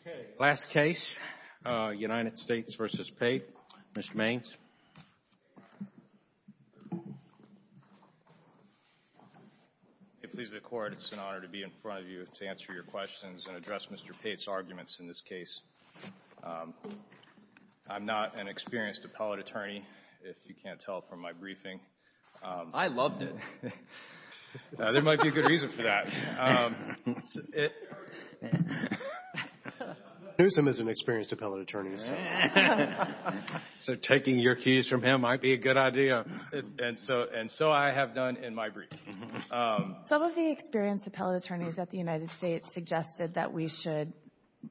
Okay. Last case, United States v. Pate. Mr. Mains. It pleases the Court. It's an honor to be in front of you to answer your questions and address Mr. Pate's arguments in this case. I'm not an experienced appellate attorney, if you can't tell from my briefing. I loved it. There might be a good reason for that. Newsom is an experienced appellate attorney. So taking your keys from him might be a good idea. And so I have done in my briefing. Some of the experienced appellate attorneys at the United States suggested that we should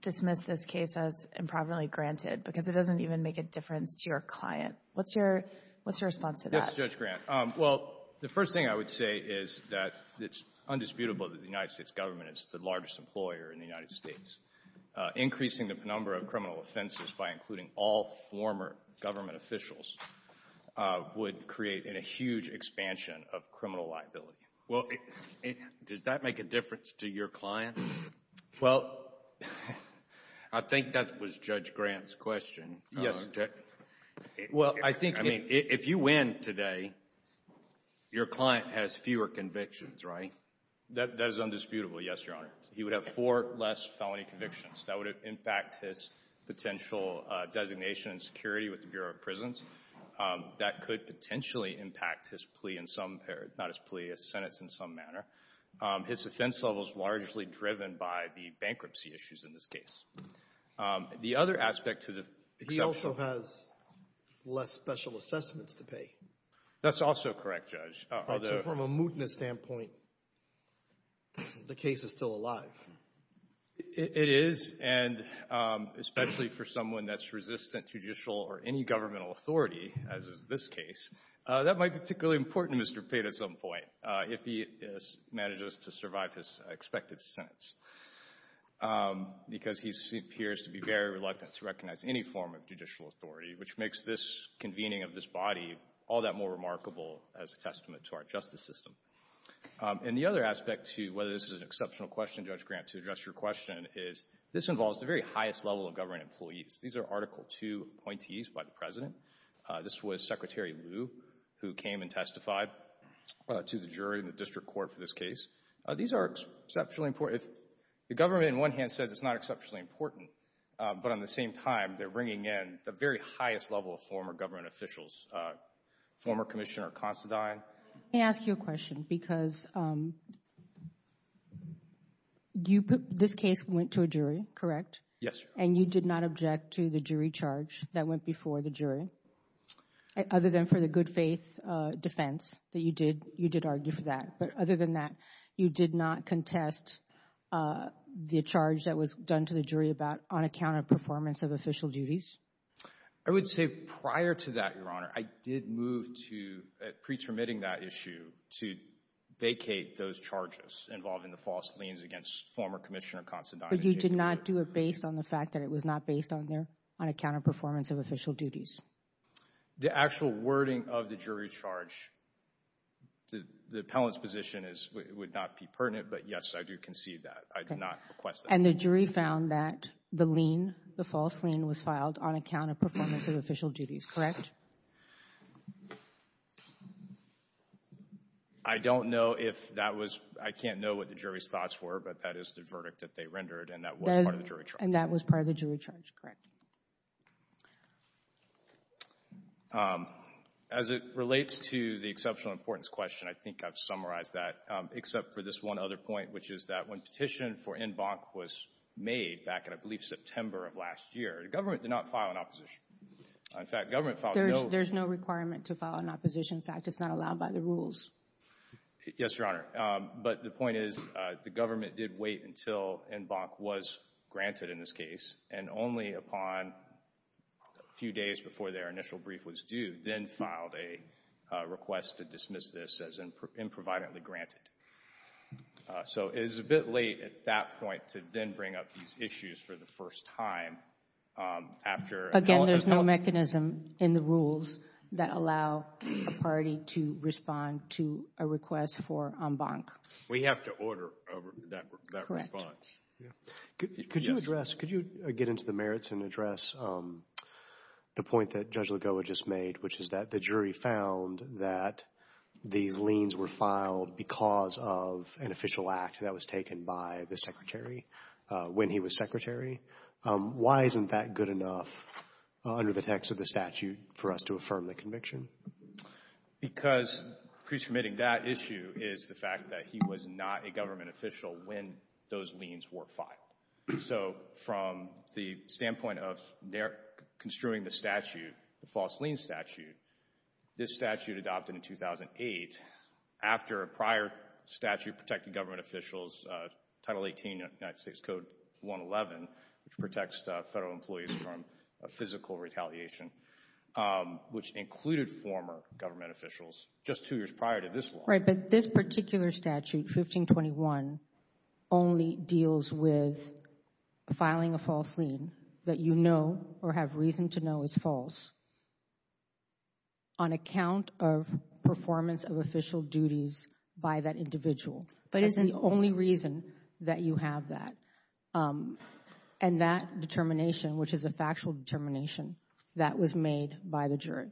dismiss this case as improperly granted because it doesn't even make a difference to your client. What's your response to that? Yes, Judge Grant. Well, the first thing I would say is that it's undisputable that the United States government is the largest employer in the United States. Increasing the number of criminal offenses by including all former government officials would create a huge expansion of criminal liability. Well, does that make a difference to your client? Well, I think that was Judge Grant's question. Yes. Well, I think, I mean, if you win today, your client has fewer convictions, right? That is undisputable, yes, Your Honor. He would have four less felony convictions. That would impact his potential designation and security with the Bureau of Prisons. That could potentially impact his plea in some period, not his plea, his sentence in some manner. His offense level is largely driven by the bankruptcy issues in this case. The other aspect to the exception. He also has less special assessments to pay. That's also correct, Judge. So from a mootness standpoint, the case is still alive. It is, and especially for someone that's resistant to judicial or any governmental authority, as is this case, that might be particularly important to Mr. Pate at some point if he manages to survive his expected sentence because he appears to be very reluctant to recognize any form of judicial authority, which makes this convening of this body all that more remarkable as a testament to our justice system. And the other aspect to whether this is an exceptional question, Judge Grant, to address your question is this involves the very highest level of government employees. These are Article II appointees by the President. This was Secretary Lew who came and testified to the jury in the district court for this case. These are exceptionally important. The government, on one hand, says it's not exceptionally important, but on the same time, they're bringing in the very highest level of former government officials, former Commissioner Considine. Let me ask you a question because this case went to a jury, correct? Yes, Your Honor. And you did not object to the jury charge that went before the jury? Other than for the good faith defense that you did argue for that. But other than that, you did not contest the charge that was done to the jury about unaccounted performance of official duties? I would say prior to that, Your Honor, I did move to pretermitting that issue to vacate those charges involving the false claims against former Commissioner Considine. But you did not do it based on the fact that it was not based on their unaccounted performance of official duties? The actual wording of the jury charge, the appellant's position is it would not be pertinent, but yes, I do concede that. I did not request that. And the jury found that the lien, the false lien, was filed on account of performance of official duties, correct? I don't know if that was, I can't know what the jury's thoughts were, but that is the verdict that they rendered, and that was part of the jury charge. And that was part of the jury charge, correct. As it relates to the exceptional importance question, I think I've summarized that, except for this one other point, which is that when petition for en banc was made back in, I believe, September of last year, the government did not file an opposition. In fact, government filed no— There's no requirement to file an opposition. In fact, it's not allowed by the rules. Yes, Your Honor. But the point is the government did wait until en banc was granted in this case, and only upon a few days before their initial brief was due, then filed a request to dismiss this as improvidently granted. So it is a bit late at that point to then bring up these issues for the first time after— Again, there's no mechanism in the rules that allow a party to respond to a request for en banc. We have to order that response. Correct. Thank you. Could you address—could you get into the merits and address the point that Judge Lagoa just made, which is that the jury found that these liens were filed because of an official act that was taken by the Secretary when he was Secretary? Why isn't that good enough under the text of the statute for us to affirm the conviction? Because pre-submitting that issue is the fact that he was not a government official when those liens were filed. So from the standpoint of construing the statute, the false lien statute, this statute adopted in 2008 after a prior statute protecting government officials, Title 18 of United States Code 111, which protects federal employees from physical retaliation, which included former government officials just two years prior to this law. Right, but this particular statute, 1521, only deals with filing a false lien that you know or have reason to know is false on account of performance of official duties by that individual. That is the only reason that you have that. And that determination, which is a factual determination, that was made by the jury.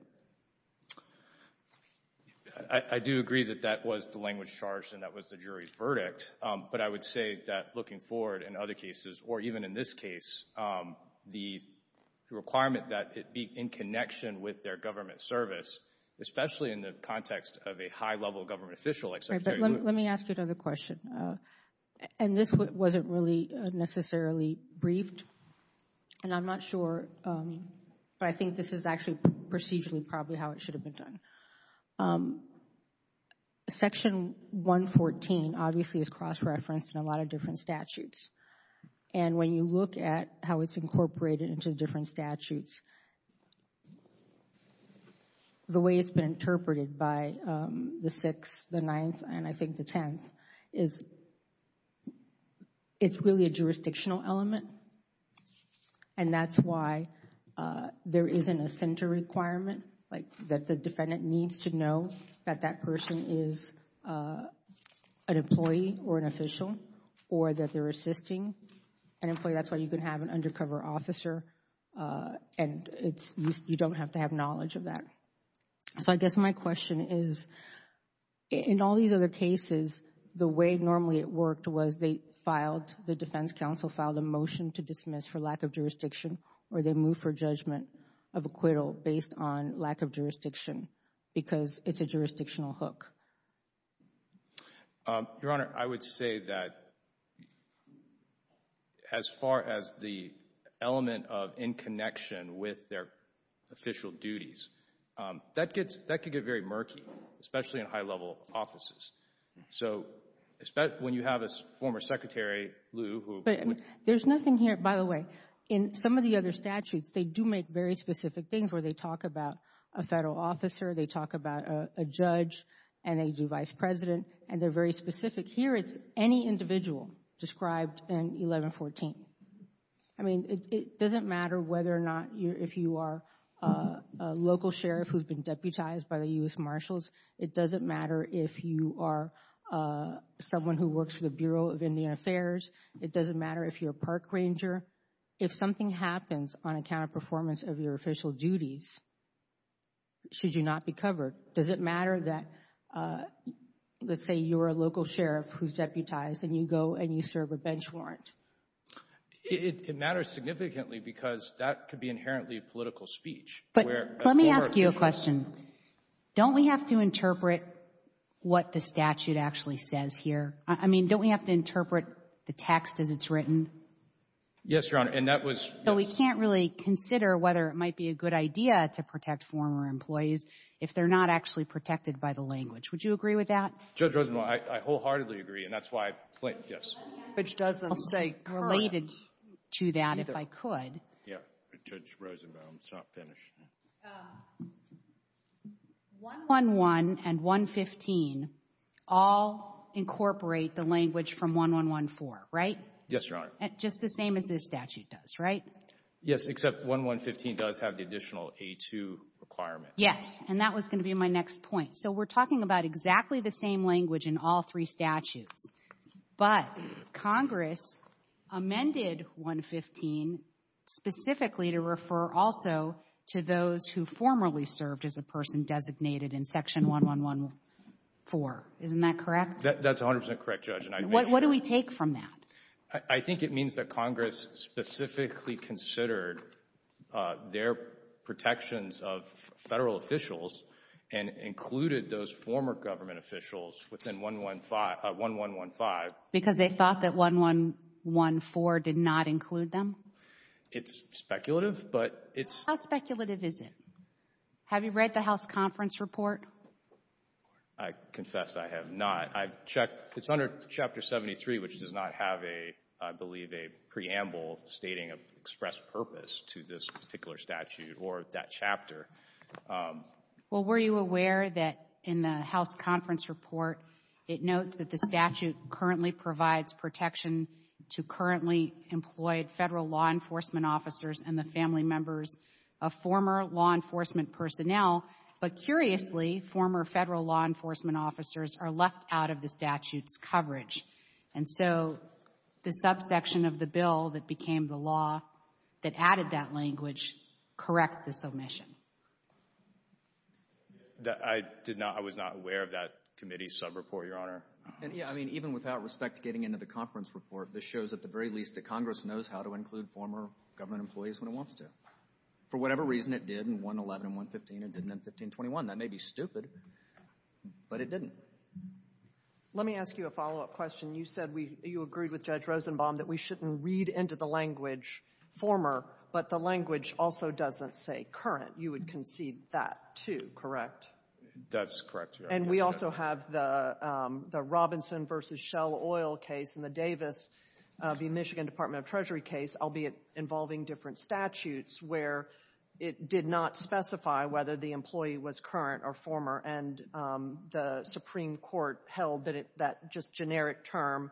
I do agree that that was the language charged and that was the jury's verdict, but I would say that looking forward in other cases or even in this case, the requirement that it be in connection with their government service, especially in the context of a high-level government official like Secretary Lewin. Right, but let me ask you another question. And this wasn't really necessarily briefed, and I'm not sure, but I think this is actually procedurally probably how it should have been done. Section 114 obviously is cross-referenced in a lot of different statutes. And when you look at how it's incorporated into different statutes, the way it's been interpreted by the 6th, the 9th, and I think the 10th, is it's really a jurisdictional element. And that's why there isn't a center requirement, like that the defendant needs to know that that person is an employee or an official or that they're assisting an employee. That's why you can have an undercover officer and you don't have to have knowledge of that. So I guess my question is, in all these other cases, the way normally it worked was they moved for judgment of acquittal based on lack of jurisdiction because it's a jurisdictional hook. Your Honor, I would say that as far as the element of in-connection with their official duties, that could get very murky, especially in high-level offices. So when you have a former secretary, Lou, who... But there's nothing here, by the way, in some of the other statutes, they do make very specific things where they talk about a federal officer, they talk about a judge, and they do vice president, and they're very specific. Here, it's any individual described in 1114. I mean, it doesn't matter whether or not, if you are a local sheriff who's been deputized by the U.S. Marshals, it doesn't matter if you are someone who works for the Bureau of Indian Affairs, it doesn't matter if you're a park ranger. If something happens on account of performance of your official duties, should you not be covered, does it matter that, let's say, you're a local sheriff who's deputized and you go and you serve a bench warrant? It matters significantly because that could be inherently political speech. But let me ask you a question. Don't we have to interpret what the statute actually says here? I mean, don't we have to interpret the text as it's written? Yes, Your Honor, and that was... So we can't really consider whether it might be a good idea to protect former employees if they're not actually protected by the language. Would you agree with that? Judge Rosenbaum, I wholeheartedly agree, and that's why I... Yes. Which doesn't say... Related to that, if I could. Yeah, Judge Rosenbaum, it's not finished. 1-1-1 and 1-15 all incorporate the language from 1-1-1-4, right? Yes, Your Honor. Just the same as this statute does, right? Yes, except 1-1-15 does have the additional A-2 requirement. Yes, and that was going to be my next point. So we're talking about exactly the same language in all three statutes, but Congress amended 1-15 specifically to refer also to those who formerly served as a person designated in Section 1-1-1-4. Isn't that correct? That's 100% correct, Judge. What do we take from that? I think it means that Congress specifically considered their protections of federal officials and included those former government officials within 1-1-1-5. Because they thought that 1-1-1-4 did not include them? It's speculative, but it's... How speculative is it? Have you read the House Conference Report? I confess I have not. I've checked. It's under Chapter 73, which does not have a, I believe, a preamble stating of express purpose to this particular statute or that chapter. Well, were you aware that in the House Conference Report, it notes that the statute currently provides protection to currently employed federal law enforcement officers and the family members of former law enforcement personnel, but curiously, former federal law enforcement officers are left out of the statute's coverage. And so the subsection of the bill that became the law that added that language corrects this omission. I did not, I was not aware of that committee subreport, Your Honor. Yeah, I mean, even without respect to getting into the conference report, this shows at the very least that Congress knows how to include former government employees when it wants to. For whatever reason, it did in 1-11 and 1-15. It didn't in 15-21. That may be stupid, but it didn't. Let me ask you a follow-up question. You said you agreed with Judge Rosenbaum that we shouldn't read into the language which also doesn't say current. You would concede that, too, correct? That's correct, Your Honor. And we also have the Robinson v. Shell Oil case and the Davis v. Michigan Department of Treasury case, albeit involving different statutes, where it did not specify whether the employee was current or former, and the Supreme Court held that that just generic term,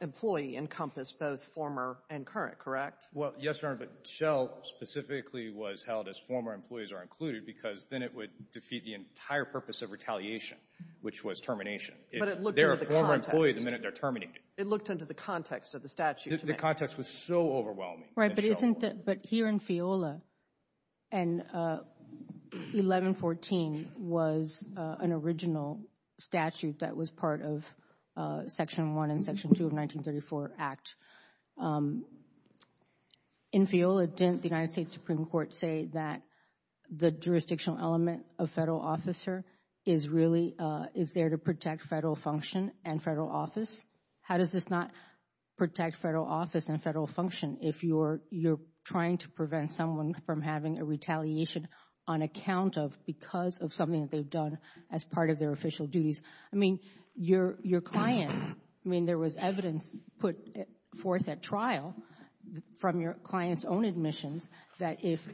employee, encompassed both former and current, correct? Well, yes, Your Honor, but Shell specifically was held as former employees are included because then it would defeat the entire purpose of retaliation, which was termination. But it looked into the context. They're a former employee the minute they're terminated. It looked into the context of the statute. The context was so overwhelming. Right, but here in FEOLA, and 11-14 was an original statute that was part of Section 1 and Section 2 of the 1934 Act. In FEOLA, didn't the United States Supreme Court say that the jurisdictional element of federal officer is there to protect federal function and federal office? How does this not protect federal office and federal function if you're trying to prevent someone from having a retaliation on account of because of something that they've done as part of their official duties? I mean, your client, I mean, there was evidence put forth at trial from your client's own admissions that if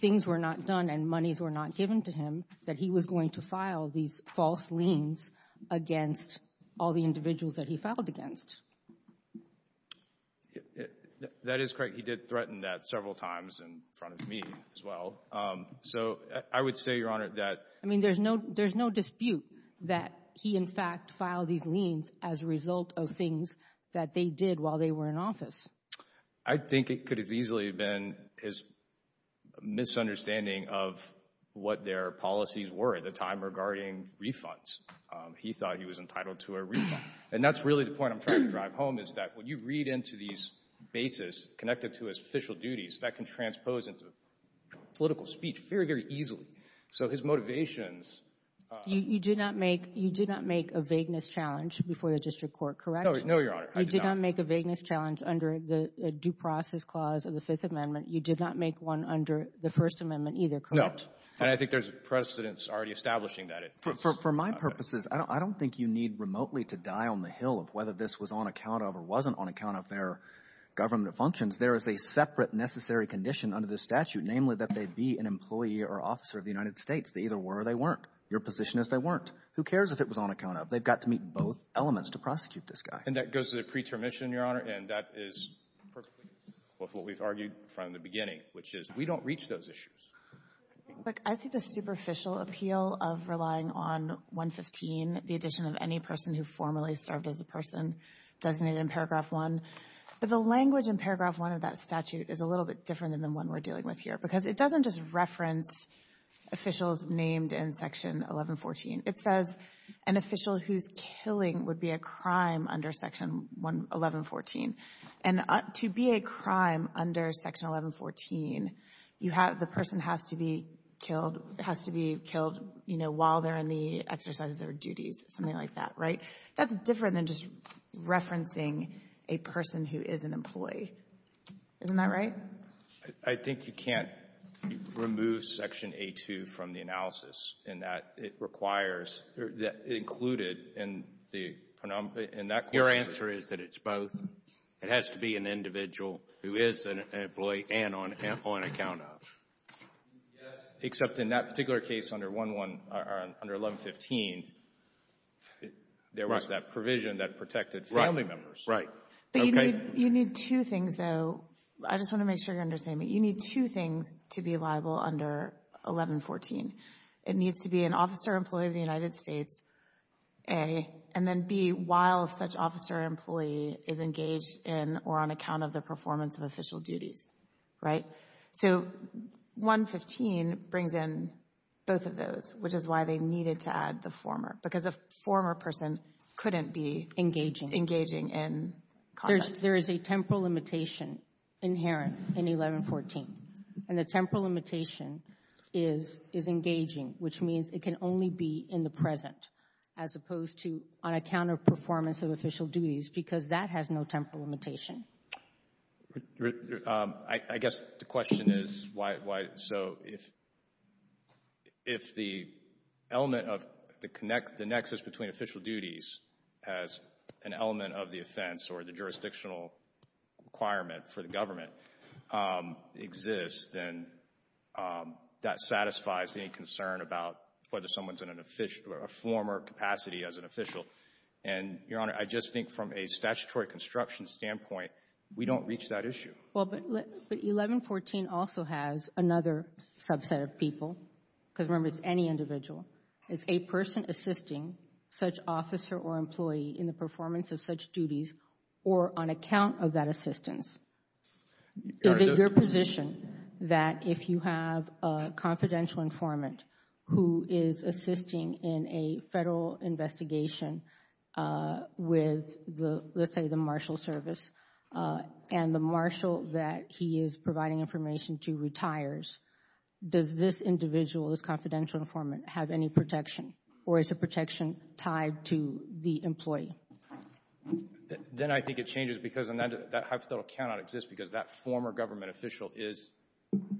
things were not done and monies were not given to him, that he was going to file these false liens against all the individuals that he filed against. That is correct. He did threaten that several times in front of me as well. So I would say, Your Honor, that — there's no dispute that he, in fact, filed these liens as a result of things that they did while they were in office. I think it could have easily been his misunderstanding of what their policies were at the time regarding refunds. He thought he was entitled to a refund. And that's really the point I'm trying to drive home is that when you read into these bases connected to his official duties, that can transpose into political speech very, very easily. So his motivations — You did not make a vagueness challenge before the district court, correct? No, Your Honor, I did not. You did not make a vagueness challenge under the due process clause of the Fifth Amendment. You did not make one under the First Amendment either, correct? No. And I think there's precedents already establishing that. For my purposes, I don't think you need remotely to die on the Hill of whether this was on account of or wasn't on account of their government functions. There is a separate necessary condition under the statute, namely, that they be an employee or officer of the United States. They either were or they weren't. Your position is they weren't. Who cares if it was on account of? They've got to meet both elements to prosecute this guy. And that goes to the preterm mission, Your Honor, and that is perfectly in line with what we've argued from the beginning, which is we don't reach those issues. Look, I see the superficial appeal of relying on 115, the addition of any person who formerly served as a person designated in Paragraph 1. But the language in Paragraph 1 of that statute is a little bit different than the one we're used to. It doesn't just reference officials named in Section 1114. It says an official who's killing would be a crime under Section 1114. And to be a crime under Section 1114, you have the person has to be killed, has to be killed, you know, while they're in the exercise of their duties, something like that. Right? That's different than just referencing a person who is an employee. Isn't that right? I think you can't remove Section A2 from the analysis in that it requires included in that question. Your answer is that it's both. It has to be an individual who is an employee and on account of. Yes, except in that particular case under 1115, there was that provision that protected family members. Right, right. But you need two things, though. I just want to make sure you understand me. You need two things to be liable under 1114. It needs to be an officer employee of the United States, A, and then B, while such officer employee is engaged in or on account of the performance of official duties. Right? So 115 brings in both of those, which is why they needed to add the former, because a former person couldn't be engaging in combat. There is a temporal limitation inherent in 1114, and the temporal limitation is engaging, which means it can only be in the present as opposed to on account of performance of official duties, because that has no temporal limitation. I guess the question is, so if the element of the nexus between official duties as an jurisdictional requirement for the government exists, then that satisfies any concern about whether someone is in a former capacity as an official. And, Your Honor, I just think from a statutory construction standpoint, we don't reach that issue. Well, but 1114 also has another subset of people, because remember, it's any individual. It's a person assisting such officer or employee in the performance of such duties or on account of that assistance. Is it your position that if you have a confidential informant who is assisting in a Federal investigation with, let's say, the Marshal Service, and the Marshal that he is providing information to retires, does this individual, this confidential informant, have any protection, or is the protection tied to the employee? Then I think it changes, because that hypothetical cannot exist, because that former government official is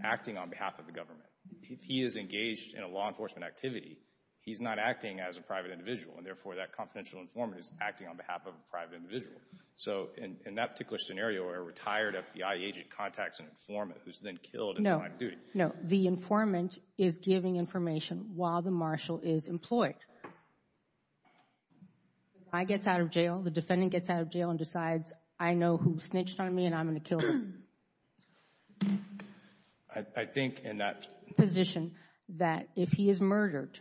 acting on behalf of the government. If he is engaged in a law enforcement activity, he's not acting as a private individual, and therefore that confidential informant is acting on behalf of a private individual. So, in that particular scenario where a retired FBI agent contacts an informant who is then killed in line of duty. No, no. The informant is giving information while the Marshal is employed. If I get out of jail, the defendant gets out of jail and decides, I know who snitched on me and I'm going to kill him. I think in that position, that if he is murdered,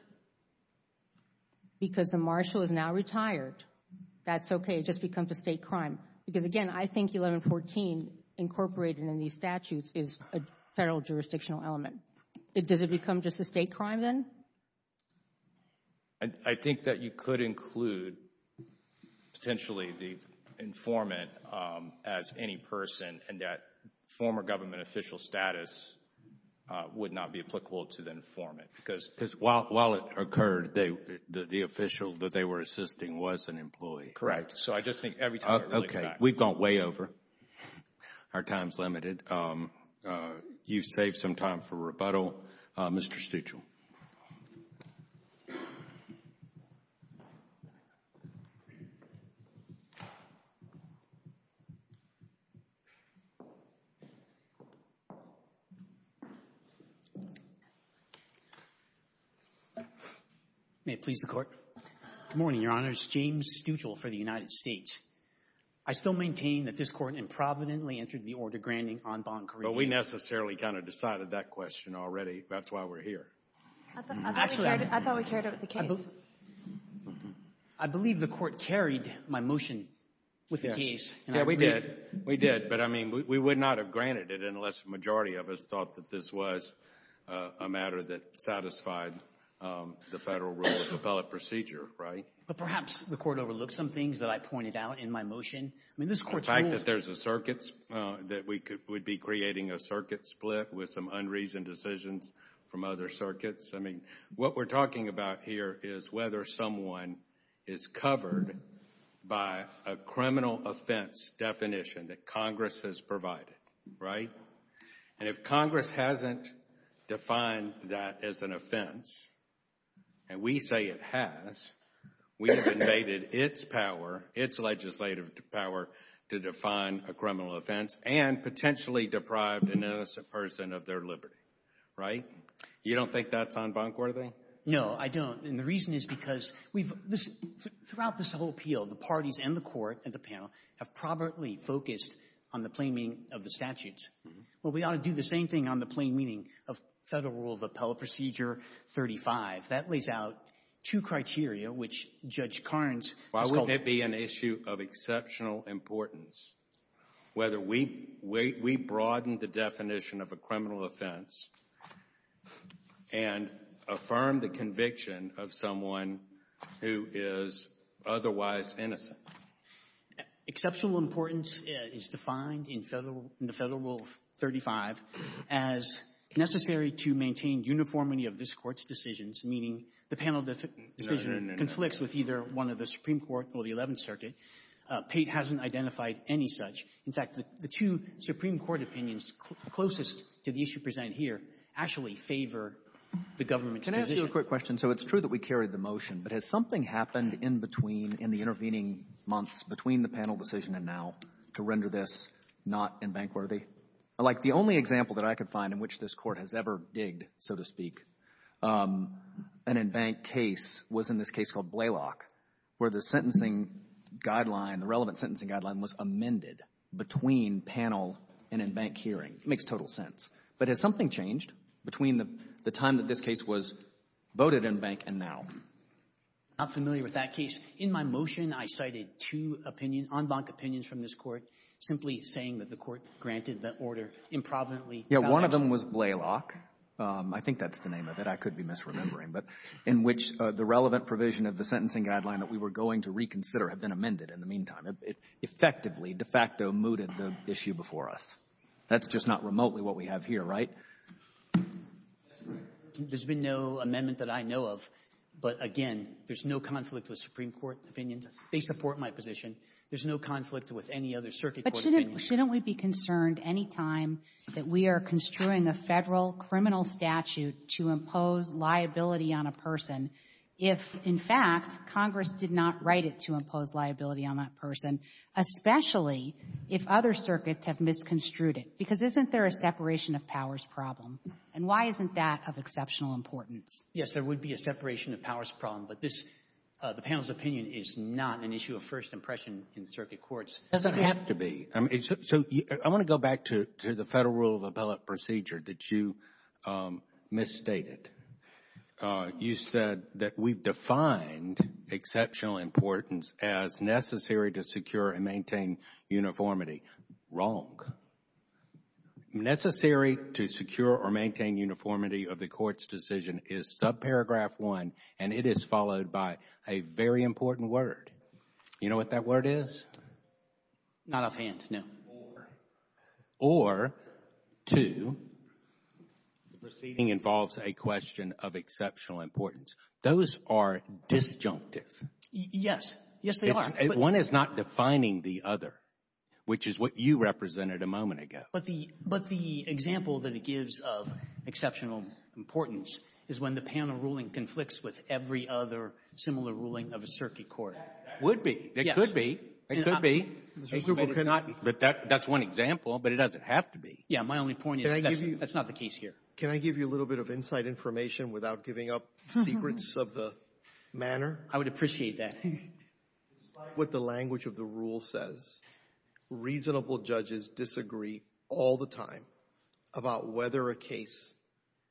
because the Marshal is now retired, that's okay. It just becomes a State crime. Because again, I think 1114 incorporated in these statutes is a Federal jurisdictional element. Does it become just a State crime then? I think that you could include, potentially, the informant as any person, and that former government official status would not be applicable to the informant. Because while it occurred, the official that they were assisting was an employee. Correct. So I just think every time it relates back. Okay. We've gone way over. Our time is limited. You've saved some time for rebuttal. Mr. Stuchel. May it please the Court. Good morning, Your Honor. It's James Stuchel for the United States. I still maintain that this Court improvidently entered the order granting en banc corrective. But we necessarily kind of decided that question already. That's why we're here. I thought we carried it with the case. I believe the Court carried my motion with the case. Yeah, we did. We did. But I mean, we would not have granted it unless the majority of us thought that this was a But perhaps the Court overlooked some things that I pointed out in my motion. The fact that there's a circuit, that we would be creating a circuit split with some unreasoned decisions from other circuits. I mean, what we're talking about here is whether someone is covered by a criminal offense definition that Congress has provided. Right? And if Congress hasn't defined that as an offense, and we say it has, we have invaded its power, its legislative power, to define a criminal offense and potentially deprive an innocent person of their liberty. Right? You don't think that's en banc worthy? No, I don't. And the reason is because throughout this whole appeal, the parties and the Court and the panel have probably focused on the plain meaning of the statutes. Well, we ought to do the same thing on the plain meaning of Federal Rule of Appellate Procedure 35. That lays out two criteria, which Judge Carnes has called Why wouldn't it be an issue of exceptional importance whether we broaden the definition of a criminal offense and affirm the conviction of someone who is otherwise innocent? Exceptional importance is defined in Federal Rule 35 as necessary to maintain uniformity of this Court's decisions, meaning the panel decision conflicts with either one of the Supreme Court or the Eleventh Circuit. Pate hasn't identified any such. In fact, the two Supreme Court opinions closest to the issue presented here actually favor the government's position. Can I ask you a quick question? So it's true that we carried the motion, but has something happened in between in the intervening months between the panel decision and now to render this not in-bank worthy? Like, the only example that I could find in which this Court has ever digged, so to speak, an in-bank case was in this case called Blaylock, where the sentencing guideline, the relevant sentencing guideline, was amended between panel and in-bank hearing. It makes total sense. But has something changed between the time that this case was voted in-bank and now? I'm not familiar with that case. In my motion, I cited two opinions, on-bank opinions from this Court, simply saying that the Court granted the order improvidently. Yeah. One of them was Blaylock. I think that's the name of it. I could be misremembering. But in which the relevant provision of the sentencing guideline that we were going to reconsider had been amended in the meantime. It effectively, de facto, mooted the issue before us. That's just not remotely what we have here, right? There's been no amendment that I know of. But, again, there's no conflict with Supreme Court opinions. They support my position. There's no conflict with any other circuit court opinion. But shouldn't we be concerned any time that we are construing a Federal criminal statute to impose liability on a person if, in fact, Congress did not write it to impose liability on that person, especially if other circuits have misconstrued it? Because isn't there a separation of powers problem? And why isn't that of exceptional importance? Yes, there would be a separation of powers problem. But this, the panel's opinion, is not an issue of first impression in circuit courts. It doesn't have to be. So I want to go back to the Federal rule of appellate procedure that you misstated. You said that we've defined exceptional importance as necessary to secure and maintain uniformity. Wrong. Necessary to secure or maintain uniformity of the court's decision is subparagraph one, and it is followed by a very important word. You know what that word is? Not offhand, no. Or. Or, two, the proceeding involves a question of exceptional importance. Those are disjunctive. Yes. Yes, they are. One is not defining the other, which is what you represented a moment ago. But the example that it gives of exceptional importance is when the panel ruling conflicts with every other similar ruling of a circuit court. That would be. It could be. It could be. But that's one example, but it doesn't have to be. Yeah. My only point is that's not the case here. Can I give you a little bit of inside information without giving up secrets of the manner? I would appreciate that. Despite what the language of the rule says, reasonable judges disagree all the time about whether a case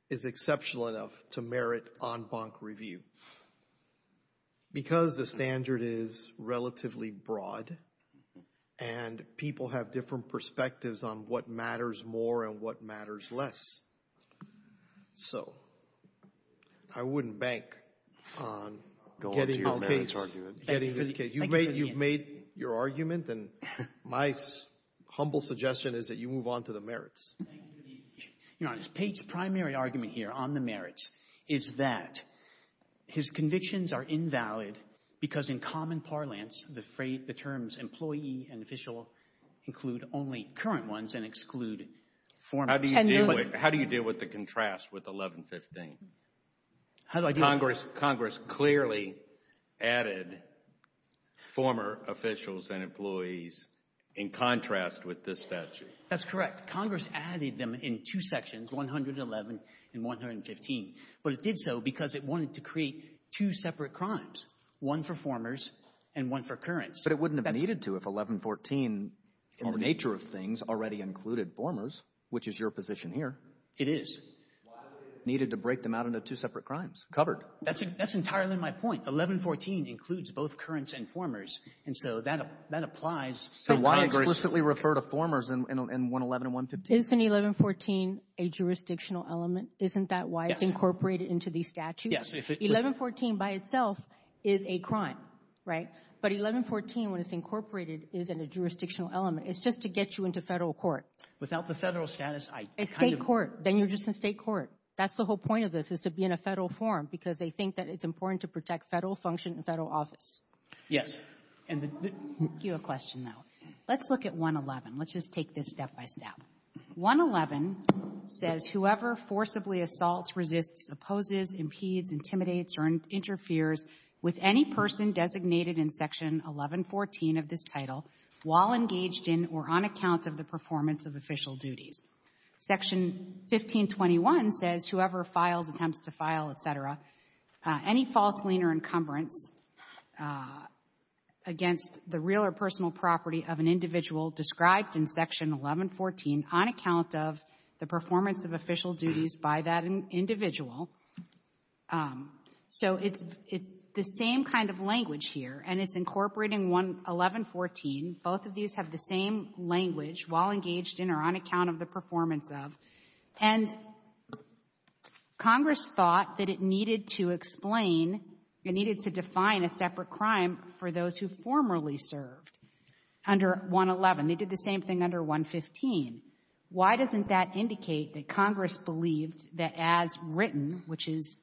is exceptional enough to merit en banc review. Because the standard is relatively broad and people have different perspectives on what matters more and what matters less. So I wouldn't bank on getting this case. You've made your argument, and my humble suggestion is that you move on to the merits. To be honest, Pate's primary argument here on the merits is that his convictions are invalid because in common parlance the terms employee and official include only current ones and exclude former. How do you deal with the contrast with 1115? Congress clearly added former officials and employees in contrast with this statute. That's correct. Congress added them in two sections, 111 and 115. But it did so because it wanted to create two separate crimes, one for formers and one for currents. But it wouldn't have needed to if 1114, in the nature of things, already included formers, which is your position here. It is. Why would it have needed to break them out into two separate crimes? Covered. That's entirely my point. 1114 includes both currents and formers, and so that applies. So why explicitly refer to formers in 111 and 115? Isn't 1114 a jurisdictional element? Isn't that why it's incorporated into the statute? Yes. 1114 by itself is a crime, right? But 1114, when it's incorporated, isn't a jurisdictional element. It's just to get you into Federal court. Without the Federal status, I kind of — State court. Then you're just in State court. That's the whole point of this, is to be in a Federal form, because they think that it's important to protect Federal function and Federal office. Yes. And the — Let me ask you a question, though. Let's look at 111. Let's just take this step by step. 111 says, Section 1521 says, by that individual. So it's the same kind of language here, and it's incorporating 111.14. Both of these have the same language, while engaged in or on account of the performance of. And Congress thought that it needed to explain, it needed to define a separate crime for those who formerly served under 111. They did the same thing under 115. Why doesn't that indicate that Congress believed that as written, which is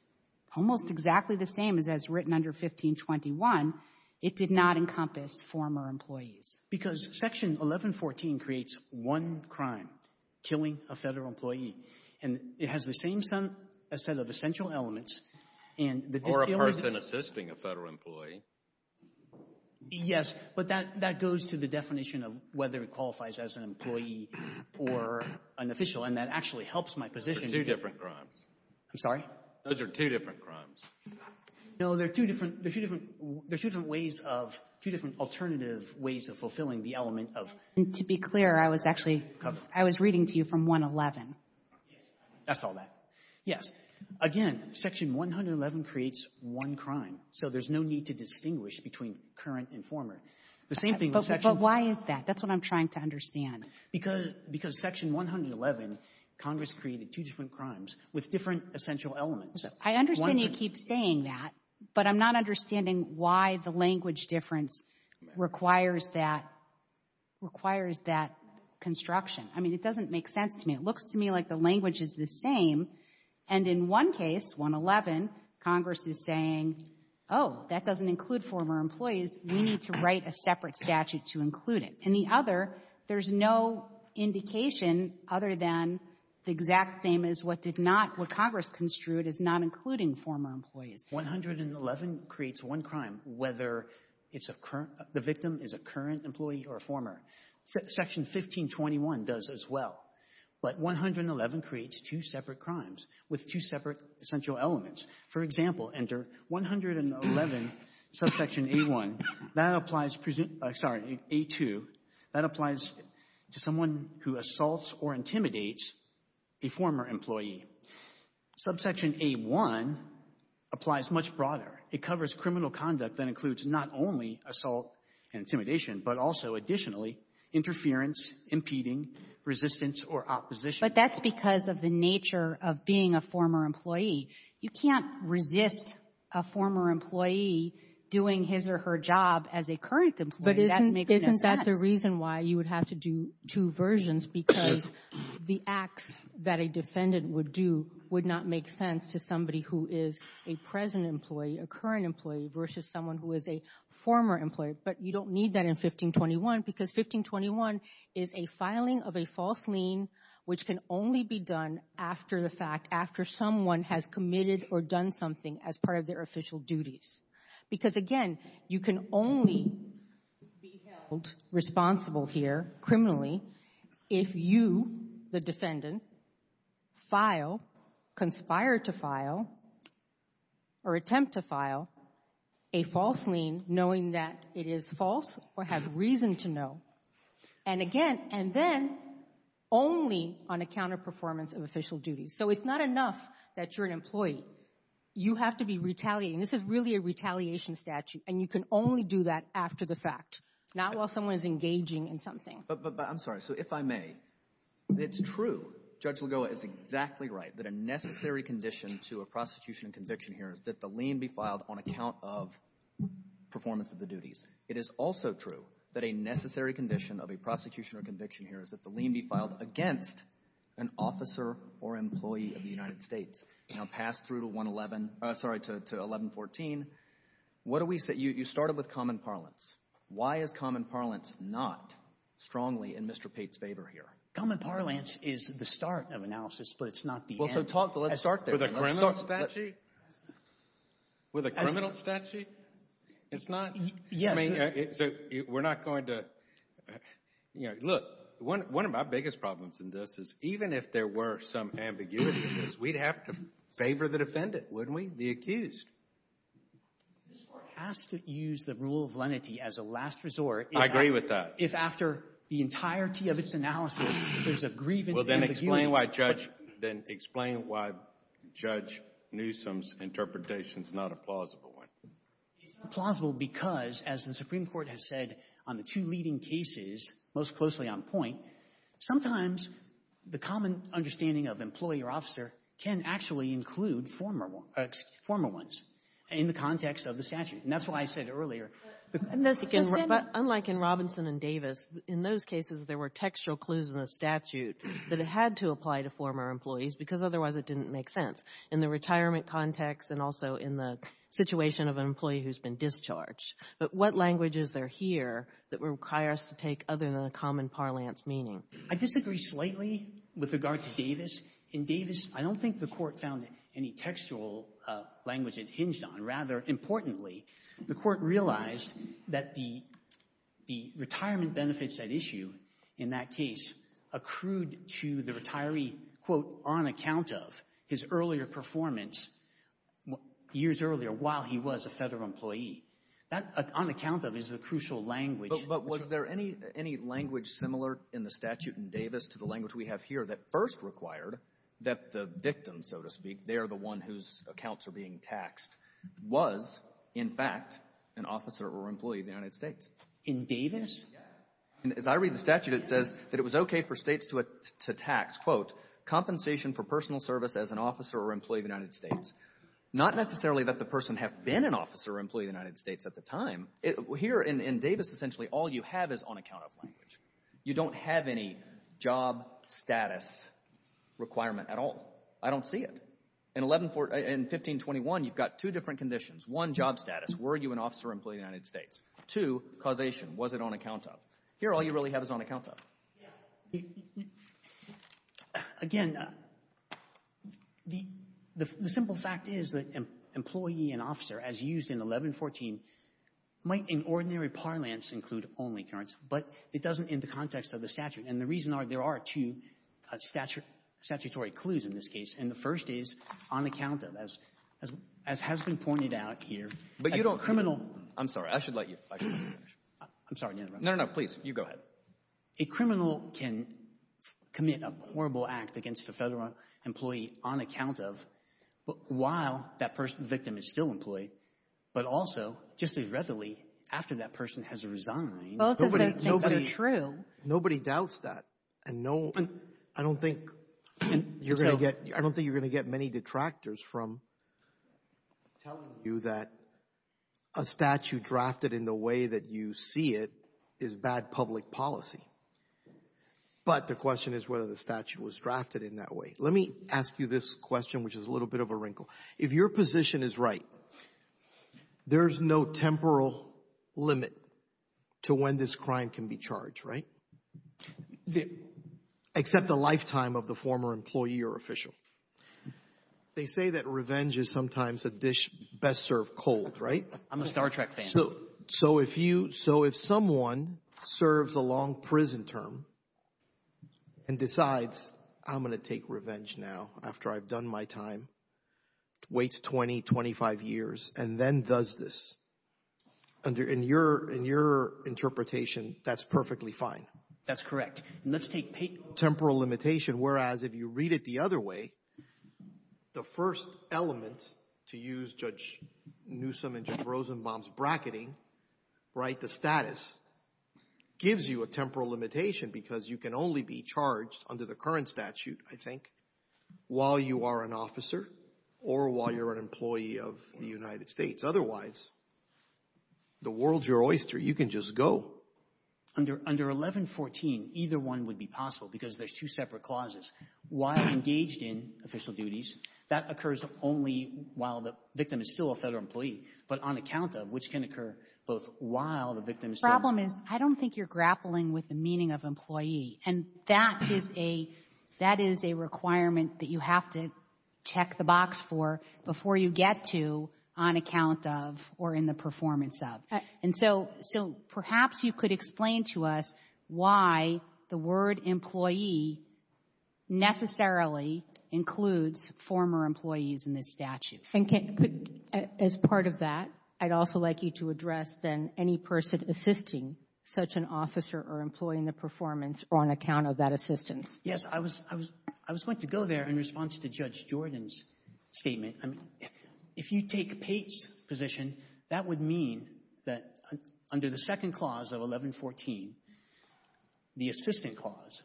almost exactly the same as as written under 1521, it did not encompass former employees? Because Section 1114 creates one crime, killing a Federal employee. And it has the same set of essential elements. Or a person assisting a Federal employee. Yes. But that goes to the definition of whether it qualifies as an employee or an official. And that actually helps my position. Those are two different crimes. I'm sorry? Those are two different crimes. No, they're two different ways of — two different alternative ways of fulfilling the element of. And to be clear, I was actually — I was reading to you from 111. Yes. That's all that. Yes. Again, Section 111 creates one crime. So there's no need to distinguish between current and former. The same thing with Section — But why is that? That's what I'm trying to understand. Because Section 111, Congress created two different crimes with different essential elements. I understand you keep saying that, but I'm not understanding why the language difference requires that — requires that construction. I mean, it doesn't make sense to me. It looks to me like the language is the same. And in one case, 111, Congress is saying, oh, that doesn't include former employees. We need to write a separate statute to include it. And the other, there's no indication other than the exact same as what did not — what Congress construed as not including former employees. 111 creates one crime, whether it's a — the victim is a current employee or a former. Section 1521 does as well. But 111 creates two separate crimes with two separate essential elements. For example, enter 111, subsection A-1. That applies — sorry, A-2. That applies to someone who assaults or intimidates a former employee. Subsection A-1 applies much broader. It covers criminal conduct that includes not only assault and intimidation, but also, additionally, interference, impeding, resistance, or opposition. But that's because of the nature of being a former employee. You can't resist a former employee doing his or her job as a current employee. That makes no sense. But isn't — isn't that the reason why you would have to do two versions? Because the acts that a defendant would do would not make sense to somebody who is a present employee, a current employee, versus someone who is a former employee, but you don't need that in 1521 because 1521 is a filing of a false lien which can only be done after the fact, after someone has committed or done something as part of their official duties. Because, again, you can only be held responsible here criminally if you, the defendant, file, conspire to file, or attempt to file a false lien knowing that it is false or has reason to know. And, again, and then only on account of performance of official duties. So it's not enough that you're an employee. You have to be retaliating. This is really a retaliation statute, and you can only do that after the fact, not while someone is engaging in something. But I'm sorry. So if I may, it's true. Judge Lagoa is exactly right that a necessary condition to a prosecution and conviction here is that the lien be filed on account of performance of the duties. It is also true that a necessary condition of a prosecution or conviction here is that the lien be filed against an officer or employee of the United States. Now, pass through to 111, sorry, to 1114. What do we say? You started with common parlance. Why is common parlance not strongly in Mr. Pate's favor here? Common parlance is the start of analysis, but it's not the end. Well, so let's start there. With a criminal statute? With a criminal statute? It's not? Yes. So we're not going to – look, one of my biggest problems in this is even if there were some ambiguity in this, we'd have to favor the defendant, wouldn't we, the accused? The court has to use the rule of lenity as a last resort. If after the entirety of its analysis there's a grievance and ambiguity. Well, then explain why Judge Newsom's interpretation is not a plausible one. It's not plausible because, as the Supreme Court has said on the two leading cases most closely on point, sometimes the common understanding of employee or officer can actually include former ones in the context of the statute. And that's why I said earlier. Unlike in Robinson and Davis, in those cases there were textual clues in the statute that it had to apply to former employees because otherwise it didn't make sense in the retirement context and also in the situation of an employee who's been discharged. But what language is there here that would require us to take other than the common parlance meaning? I disagree slightly with regard to Davis. In Davis, I don't think the court found any textual language it hinged on. Rather, importantly, the court realized that the retirement benefits at issue in that case accrued to the retiree, quote, on account of his earlier performance years earlier while he was a federal employee. On account of is the crucial language. But was there any language similar in the statute in Davis to the language we have here that first required that the victim, so to speak, they're the one whose accounts are being taxed, was, in fact, an officer or employee of the United States? In Davis? Yes. As I read the statute, it says that it was okay for states to tax, quote, compensation for personal service as an officer or employee of the United States. Not necessarily that the person have been an officer or employee of the United States at the time. Here in Davis, essentially all you have is on account of language. You don't have any job status requirement at all. I don't see it. In 1521, you've got two different conditions. One, job status. Were you an officer or employee of the United States? Two, causation. Was it on account of? Here, all you really have is on account of. Again, the simple fact is that employee and officer, as used in 1114, might in ordinary parlance include only currents, but it doesn't in the context of the statute. And the reason there are two statutory clues in this case, and the first is on account of, as has been pointed out here. But you don't. A criminal. I'm sorry. I should let you finish. I'm sorry. No, no, please. You go ahead. A criminal can commit a horrible act against a federal employee on account of, while that person, victim, is still employed, but also just as readily after that person has resigned. Both of those things are true. Nobody doubts that. I don't think you're going to get many detractors from telling you that a statute drafted in the way that you see it is bad public policy. But the question is whether the statute was drafted in that way. Let me ask you this question, which is a little bit of a wrinkle. If your position is right, there's no temporal limit to when this crime can be charged, right? Except the lifetime of the former employee or official. They say that revenge is sometimes a dish best served cold, right? I'm a Star Trek fan. So if someone serves a long prison term and decides, I'm going to take revenge now after I've done my time, waits 20, 25 years, and then does this, in your interpretation, that's perfectly fine. That's correct. Let's take temporal limitation, whereas if you read it the other way, the first element to use Judge Newsom and Judge Rosenbaum's bracketing, right, the status, gives you a temporal limitation because you can only be charged under the current statute, I think, while you are an officer or while you're an employee of the United States. Otherwise, the world's your oyster. You can just go. Under 1114, either one would be possible because there's two separate clauses. While engaged in official duties, that occurs only while the victim is still a federal employee, but on account of, which can occur both while the victim is still... The problem is I don't think you're grappling with the meaning of employee, and that is a requirement that you have to check the box for before you get to on account of or in the performance of. And so perhaps you could explain to us why the word employee necessarily includes former employees in this statute. As part of that, I'd also like you to address, then, any person assisting such an officer or employee in the performance or on account of that assistance. Yes. I was going to go there in response to Judge Jordan's statement. If you take Pate's position, that would mean that under the second clause of 1114, the assistant clause,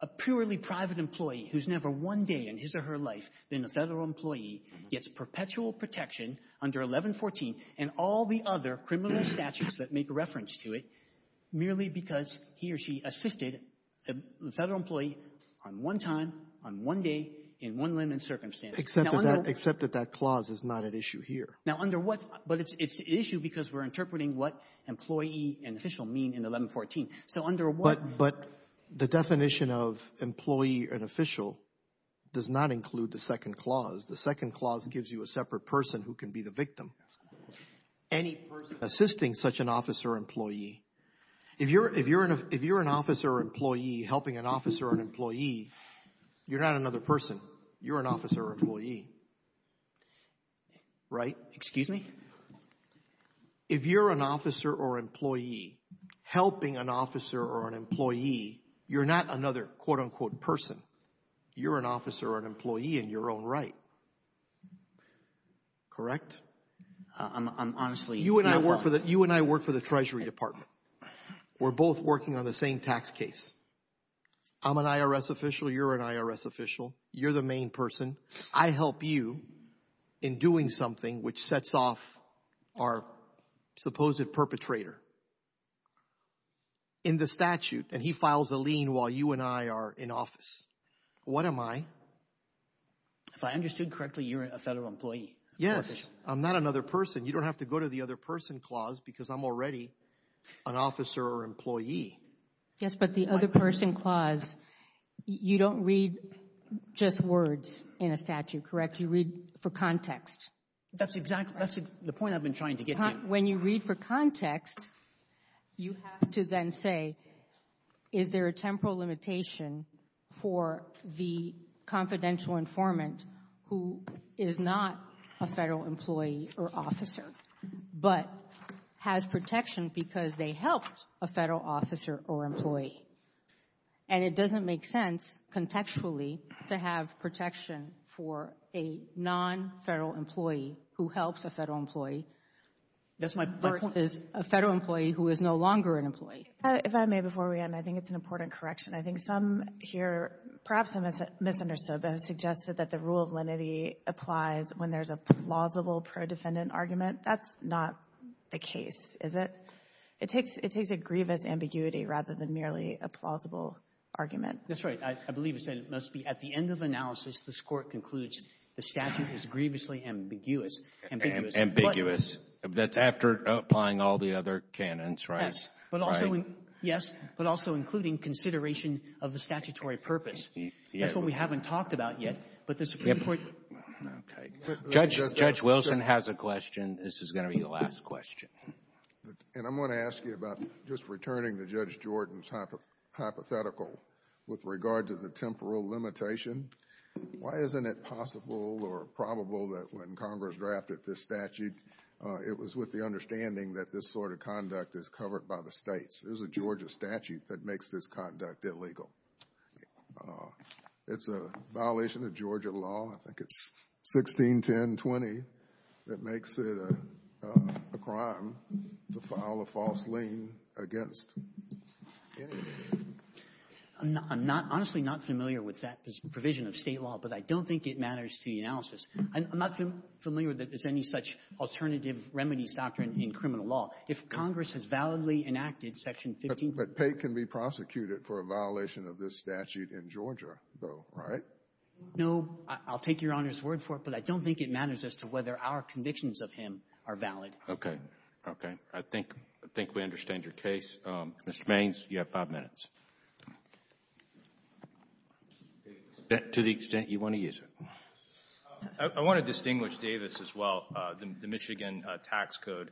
a purely private employee who's never one day in his or her life been a federal employee gets perpetual protection under 1114 and all the other criminal statutes that make reference to it merely because he or she assisted a federal employee on one time, on one day, in one limb and circumstance. Except that that clause is not at issue here. But it's at issue because we're interpreting what employee and official mean in 1114. But the definition of employee and official does not include the second clause. The second clause gives you a separate person who can be the victim. Any person assisting such an officer or employee, if you're an officer or employee helping an officer or an employee, you're not another person. You're an officer or employee. Right? Excuse me? If you're an officer or employee helping an officer or an employee, you're not another, quote, unquote, person. You're an officer or an employee in your own right. Correct? I'm honestly not sure. You and I work for the Treasury Department. We're both working on the same tax case. I'm an IRS official. You're an IRS official. You're the main person. I help you in doing something which sets off our supposed perpetrator in the statute. And he files a lien while you and I are in office. What am I? If I understood correctly, you're a federal employee. Yes. I'm not another person. You don't have to go to the other person clause because I'm already an officer or employee. Yes, but the other person clause, you don't read just words in a statute. Correct? You read for context. That's the point I've been trying to get to. When you read for context, you have to then say, is there a temporal limitation for the confidential informant who is not a federal employee or officer but has protection because they helped a federal officer or employee? And it doesn't make sense contextually to have protection for a non-federal employee who helps a federal employee or is a federal employee who is no longer an employee. If I may before we end, I think it's an important correction. I think some here, perhaps I misunderstood, but have suggested that the rule of lenity applies when there's a plausible pro-defendant argument. That's not the case, is it? It takes a grievous ambiguity rather than merely a plausible argument. That's right. I believe it said it must be at the end of analysis, this Court concludes the statute is grievously ambiguous. Ambiguous. Ambiguous. That's after applying all the other canons, right? Yes, but also including consideration of the statutory purpose. That's what we haven't talked about yet, but there's a pretty important. Okay. Judge Wilson has a question. This is going to be the last question. And I'm going to ask you about just returning to Judge Jordan's hypothetical with regard to the temporal limitation. Why isn't it possible or probable that when Congress drafted this statute, it was with the understanding that this sort of conduct is covered by the states? There's a Georgia statute that makes this conduct illegal. It's a violation of Georgia law. I think it's 161020 that makes it a crime to file a false lien against any of the states. I'm honestly not familiar with that provision of state law, but I don't think it matters to the analysis. I'm not familiar that there's any such alternative remedies doctrine in criminal law. If Congress has validly enacted Section 15. But Pate can be prosecuted for a violation of this statute in Georgia, though, right? No. I'll take Your Honor's word for it, but I don't think it matters as to whether our convictions of him are valid. Okay. Okay. I think we understand your case. Mr. Maynes, you have five minutes. To the extent you want to use it. I want to distinguish Davis as well, the Michigan tax code.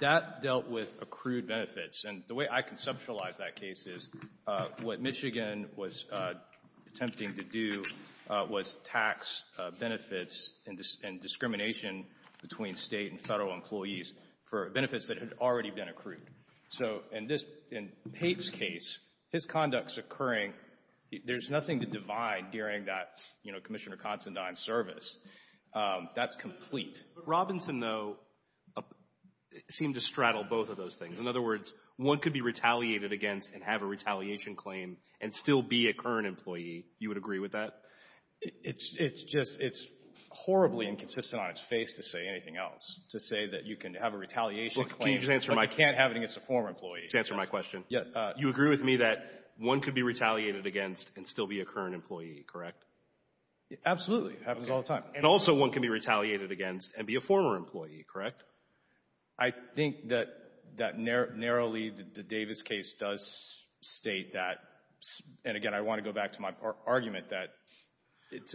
That dealt with accrued benefits. And the way I conceptualize that case is what Michigan was attempting to do was tax benefits and discrimination between State and Federal employees for benefits that had already been accrued. So in this — in Pate's case, his conducts occurring, there's nothing to divide during that, you know, Commissioner Considine's service. That's complete. Robinson, though, seemed to straddle both of those things. In other words, one could be retaliated against and have a retaliation claim and still be a current employee. You would agree with that? It's just — it's horribly inconsistent on its face to say anything else, to say that you can have a retaliation claim. But you can't have it against a former employee. To answer my question, you agree with me that one could be retaliated against and still be a current employee, correct? Absolutely. It happens all the time. And also one can be retaliated against and be a former employee, correct? I think that narrowly the Davis case does state that. And, again, I want to go back to my argument that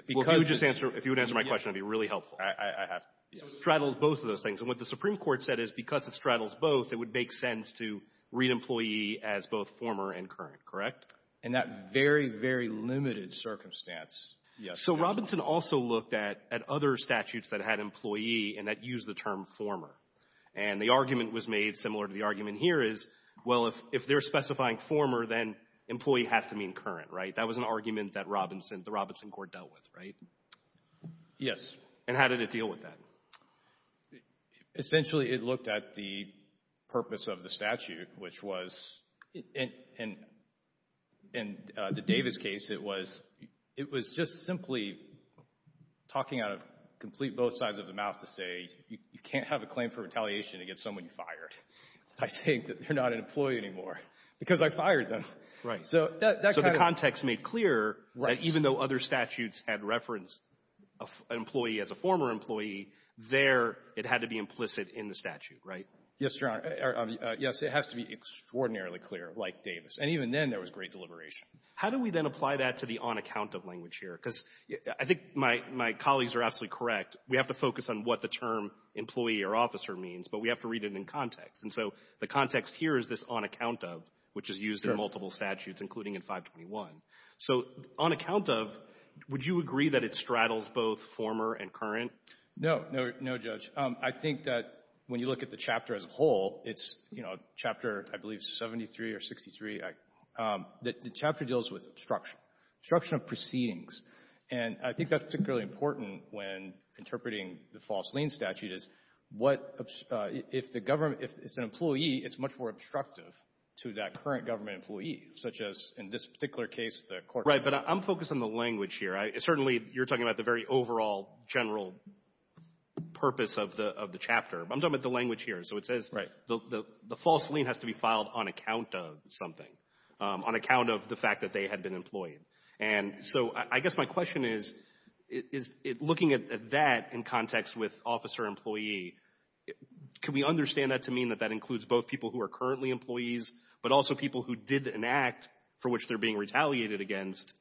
because — Well, if you would answer my question, it would be really helpful. I have — yes. So it straddles both of those things. And what the Supreme Court said is because it straddles both, it would make sense to read employee as both former and current, correct? In that very, very limited circumstance, yes. So Robinson also looked at other statutes that had employee and that used the term former. And the argument was made, similar to the argument here, is, well, if they're specifying former, then employee has to mean current, right? That was an argument that Robinson — the Robinson court dealt with, right? Yes. And how did it deal with that? Essentially, it looked at the purpose of the statute, which was — in the Davis case, it was just simply talking out of complete both sides of the mouth to say you can't have a claim for retaliation against someone you fired by saying that they're not an employee anymore because I fired them. Right. So that kind of — there, it had to be implicit in the statute, right? Yes, Your Honor. Yes, it has to be extraordinarily clear, like Davis. And even then, there was great deliberation. How do we then apply that to the on account of language here? Because I think my colleagues are absolutely correct. We have to focus on what the term employee or officer means, but we have to read it in context. And so the context here is this on account of, which is used in multiple statutes, including in 521. No. No, Judge. I think that when you look at the chapter as a whole, it's, you know, chapter, I believe, 73 or 63. The chapter deals with obstruction, obstruction of proceedings. And I think that's particularly important when interpreting the false lien statute is what — if the government — if it's an employee, it's much more obstructive to that current government employee, such as in this particular case, the court — Right. But I'm focused on the language here. Certainly, you're talking about the very overall general purpose of the chapter. I'm talking about the language here. So it says — Right. The false lien has to be filed on account of something, on account of the fact that they had been employed. And so I guess my question is, looking at that in context with officer-employee, can we understand that to mean that that includes both people who are currently employees, but also people who did enact, for which they're being retaliated against,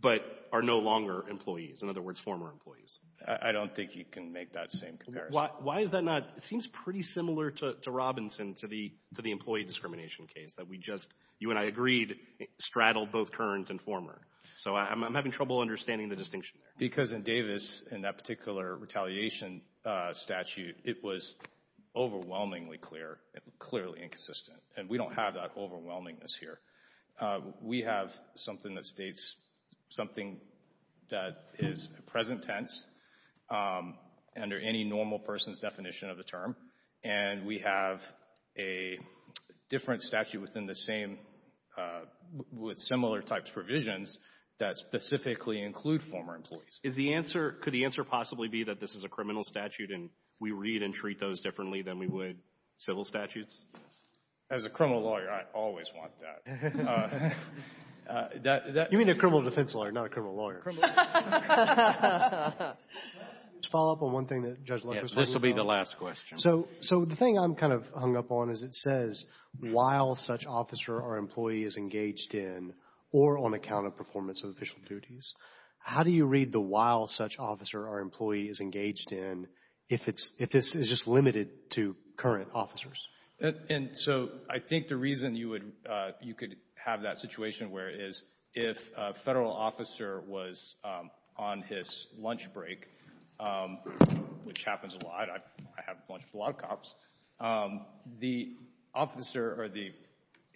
but are no longer employees? In other words, former employees. I don't think you can make that same comparison. Why is that not — it seems pretty similar to Robinson, to the employee discrimination case, that we just — you and I agreed, straddled both current and former. So I'm having trouble understanding the distinction there. Because in Davis, in that particular retaliation statute, it was overwhelmingly clear, clearly inconsistent. And we don't have that overwhelmingness here. We have something that states something that is present tense, under any normal person's definition of the term. And we have a different statute within the same — with similar types of provisions that specifically include former employees. Is the answer — could the answer possibly be that this is a criminal statute, and we read and treat those differently than we would civil statutes? As a criminal lawyer, I always want that. You mean a criminal defense lawyer, not a criminal lawyer. Criminal defense lawyer. To follow up on one thing that Judge Leck was talking about. Yes, this will be the last question. So the thing I'm kind of hung up on is it says, while such officer or employee is engaged in or on account of performance of official duties, how do you read the while such officer or employee is engaged in if it's — if this is just limited to current officers? And so I think the reason you would — you could have that situation where it is, if a federal officer was on his lunch break, which happens a lot. I have lunch with a lot of cops. The officer or the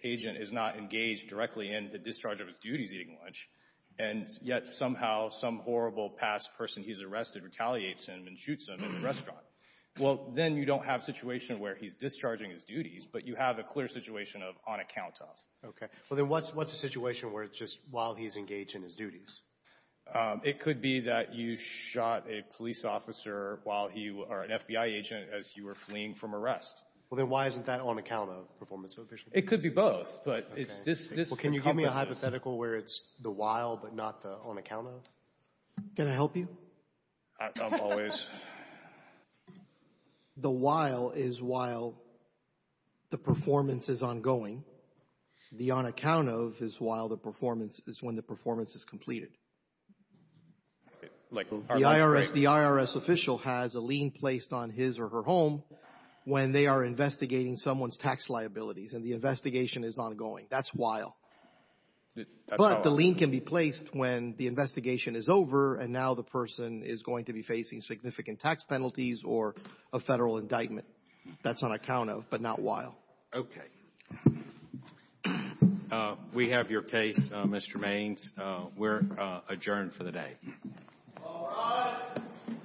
agent is not engaged directly in the discharge of his duties eating lunch. And yet somehow some horrible past person he's arrested retaliates him and shoots him in the restaurant. Well, then you don't have a situation where he's discharging his duties, but you have a clear situation of on account of. Okay. Well, then what's a situation where it's just while he's engaged in his duties? It could be that you shot a police officer while he — or an FBI agent as you were fleeing from arrest. Well, then why isn't that on account of performance of official duties? It could be both. Well, can you give me a hypothetical where it's the while but not the on account of? Can I help you? I'm always — The while is while the performance is ongoing. The on account of is while the performance — is when the performance is completed. The IRS official has a lien placed on his or her home when they are investigating someone's tax liabilities, and the investigation is ongoing. That's while. But the lien can be placed when the investigation is over and now the person is going to be facing significant tax penalties or a federal indictment. That's on account of but not while. Okay. We have your case, Mr. Maines. We're adjourned for the day. All rise.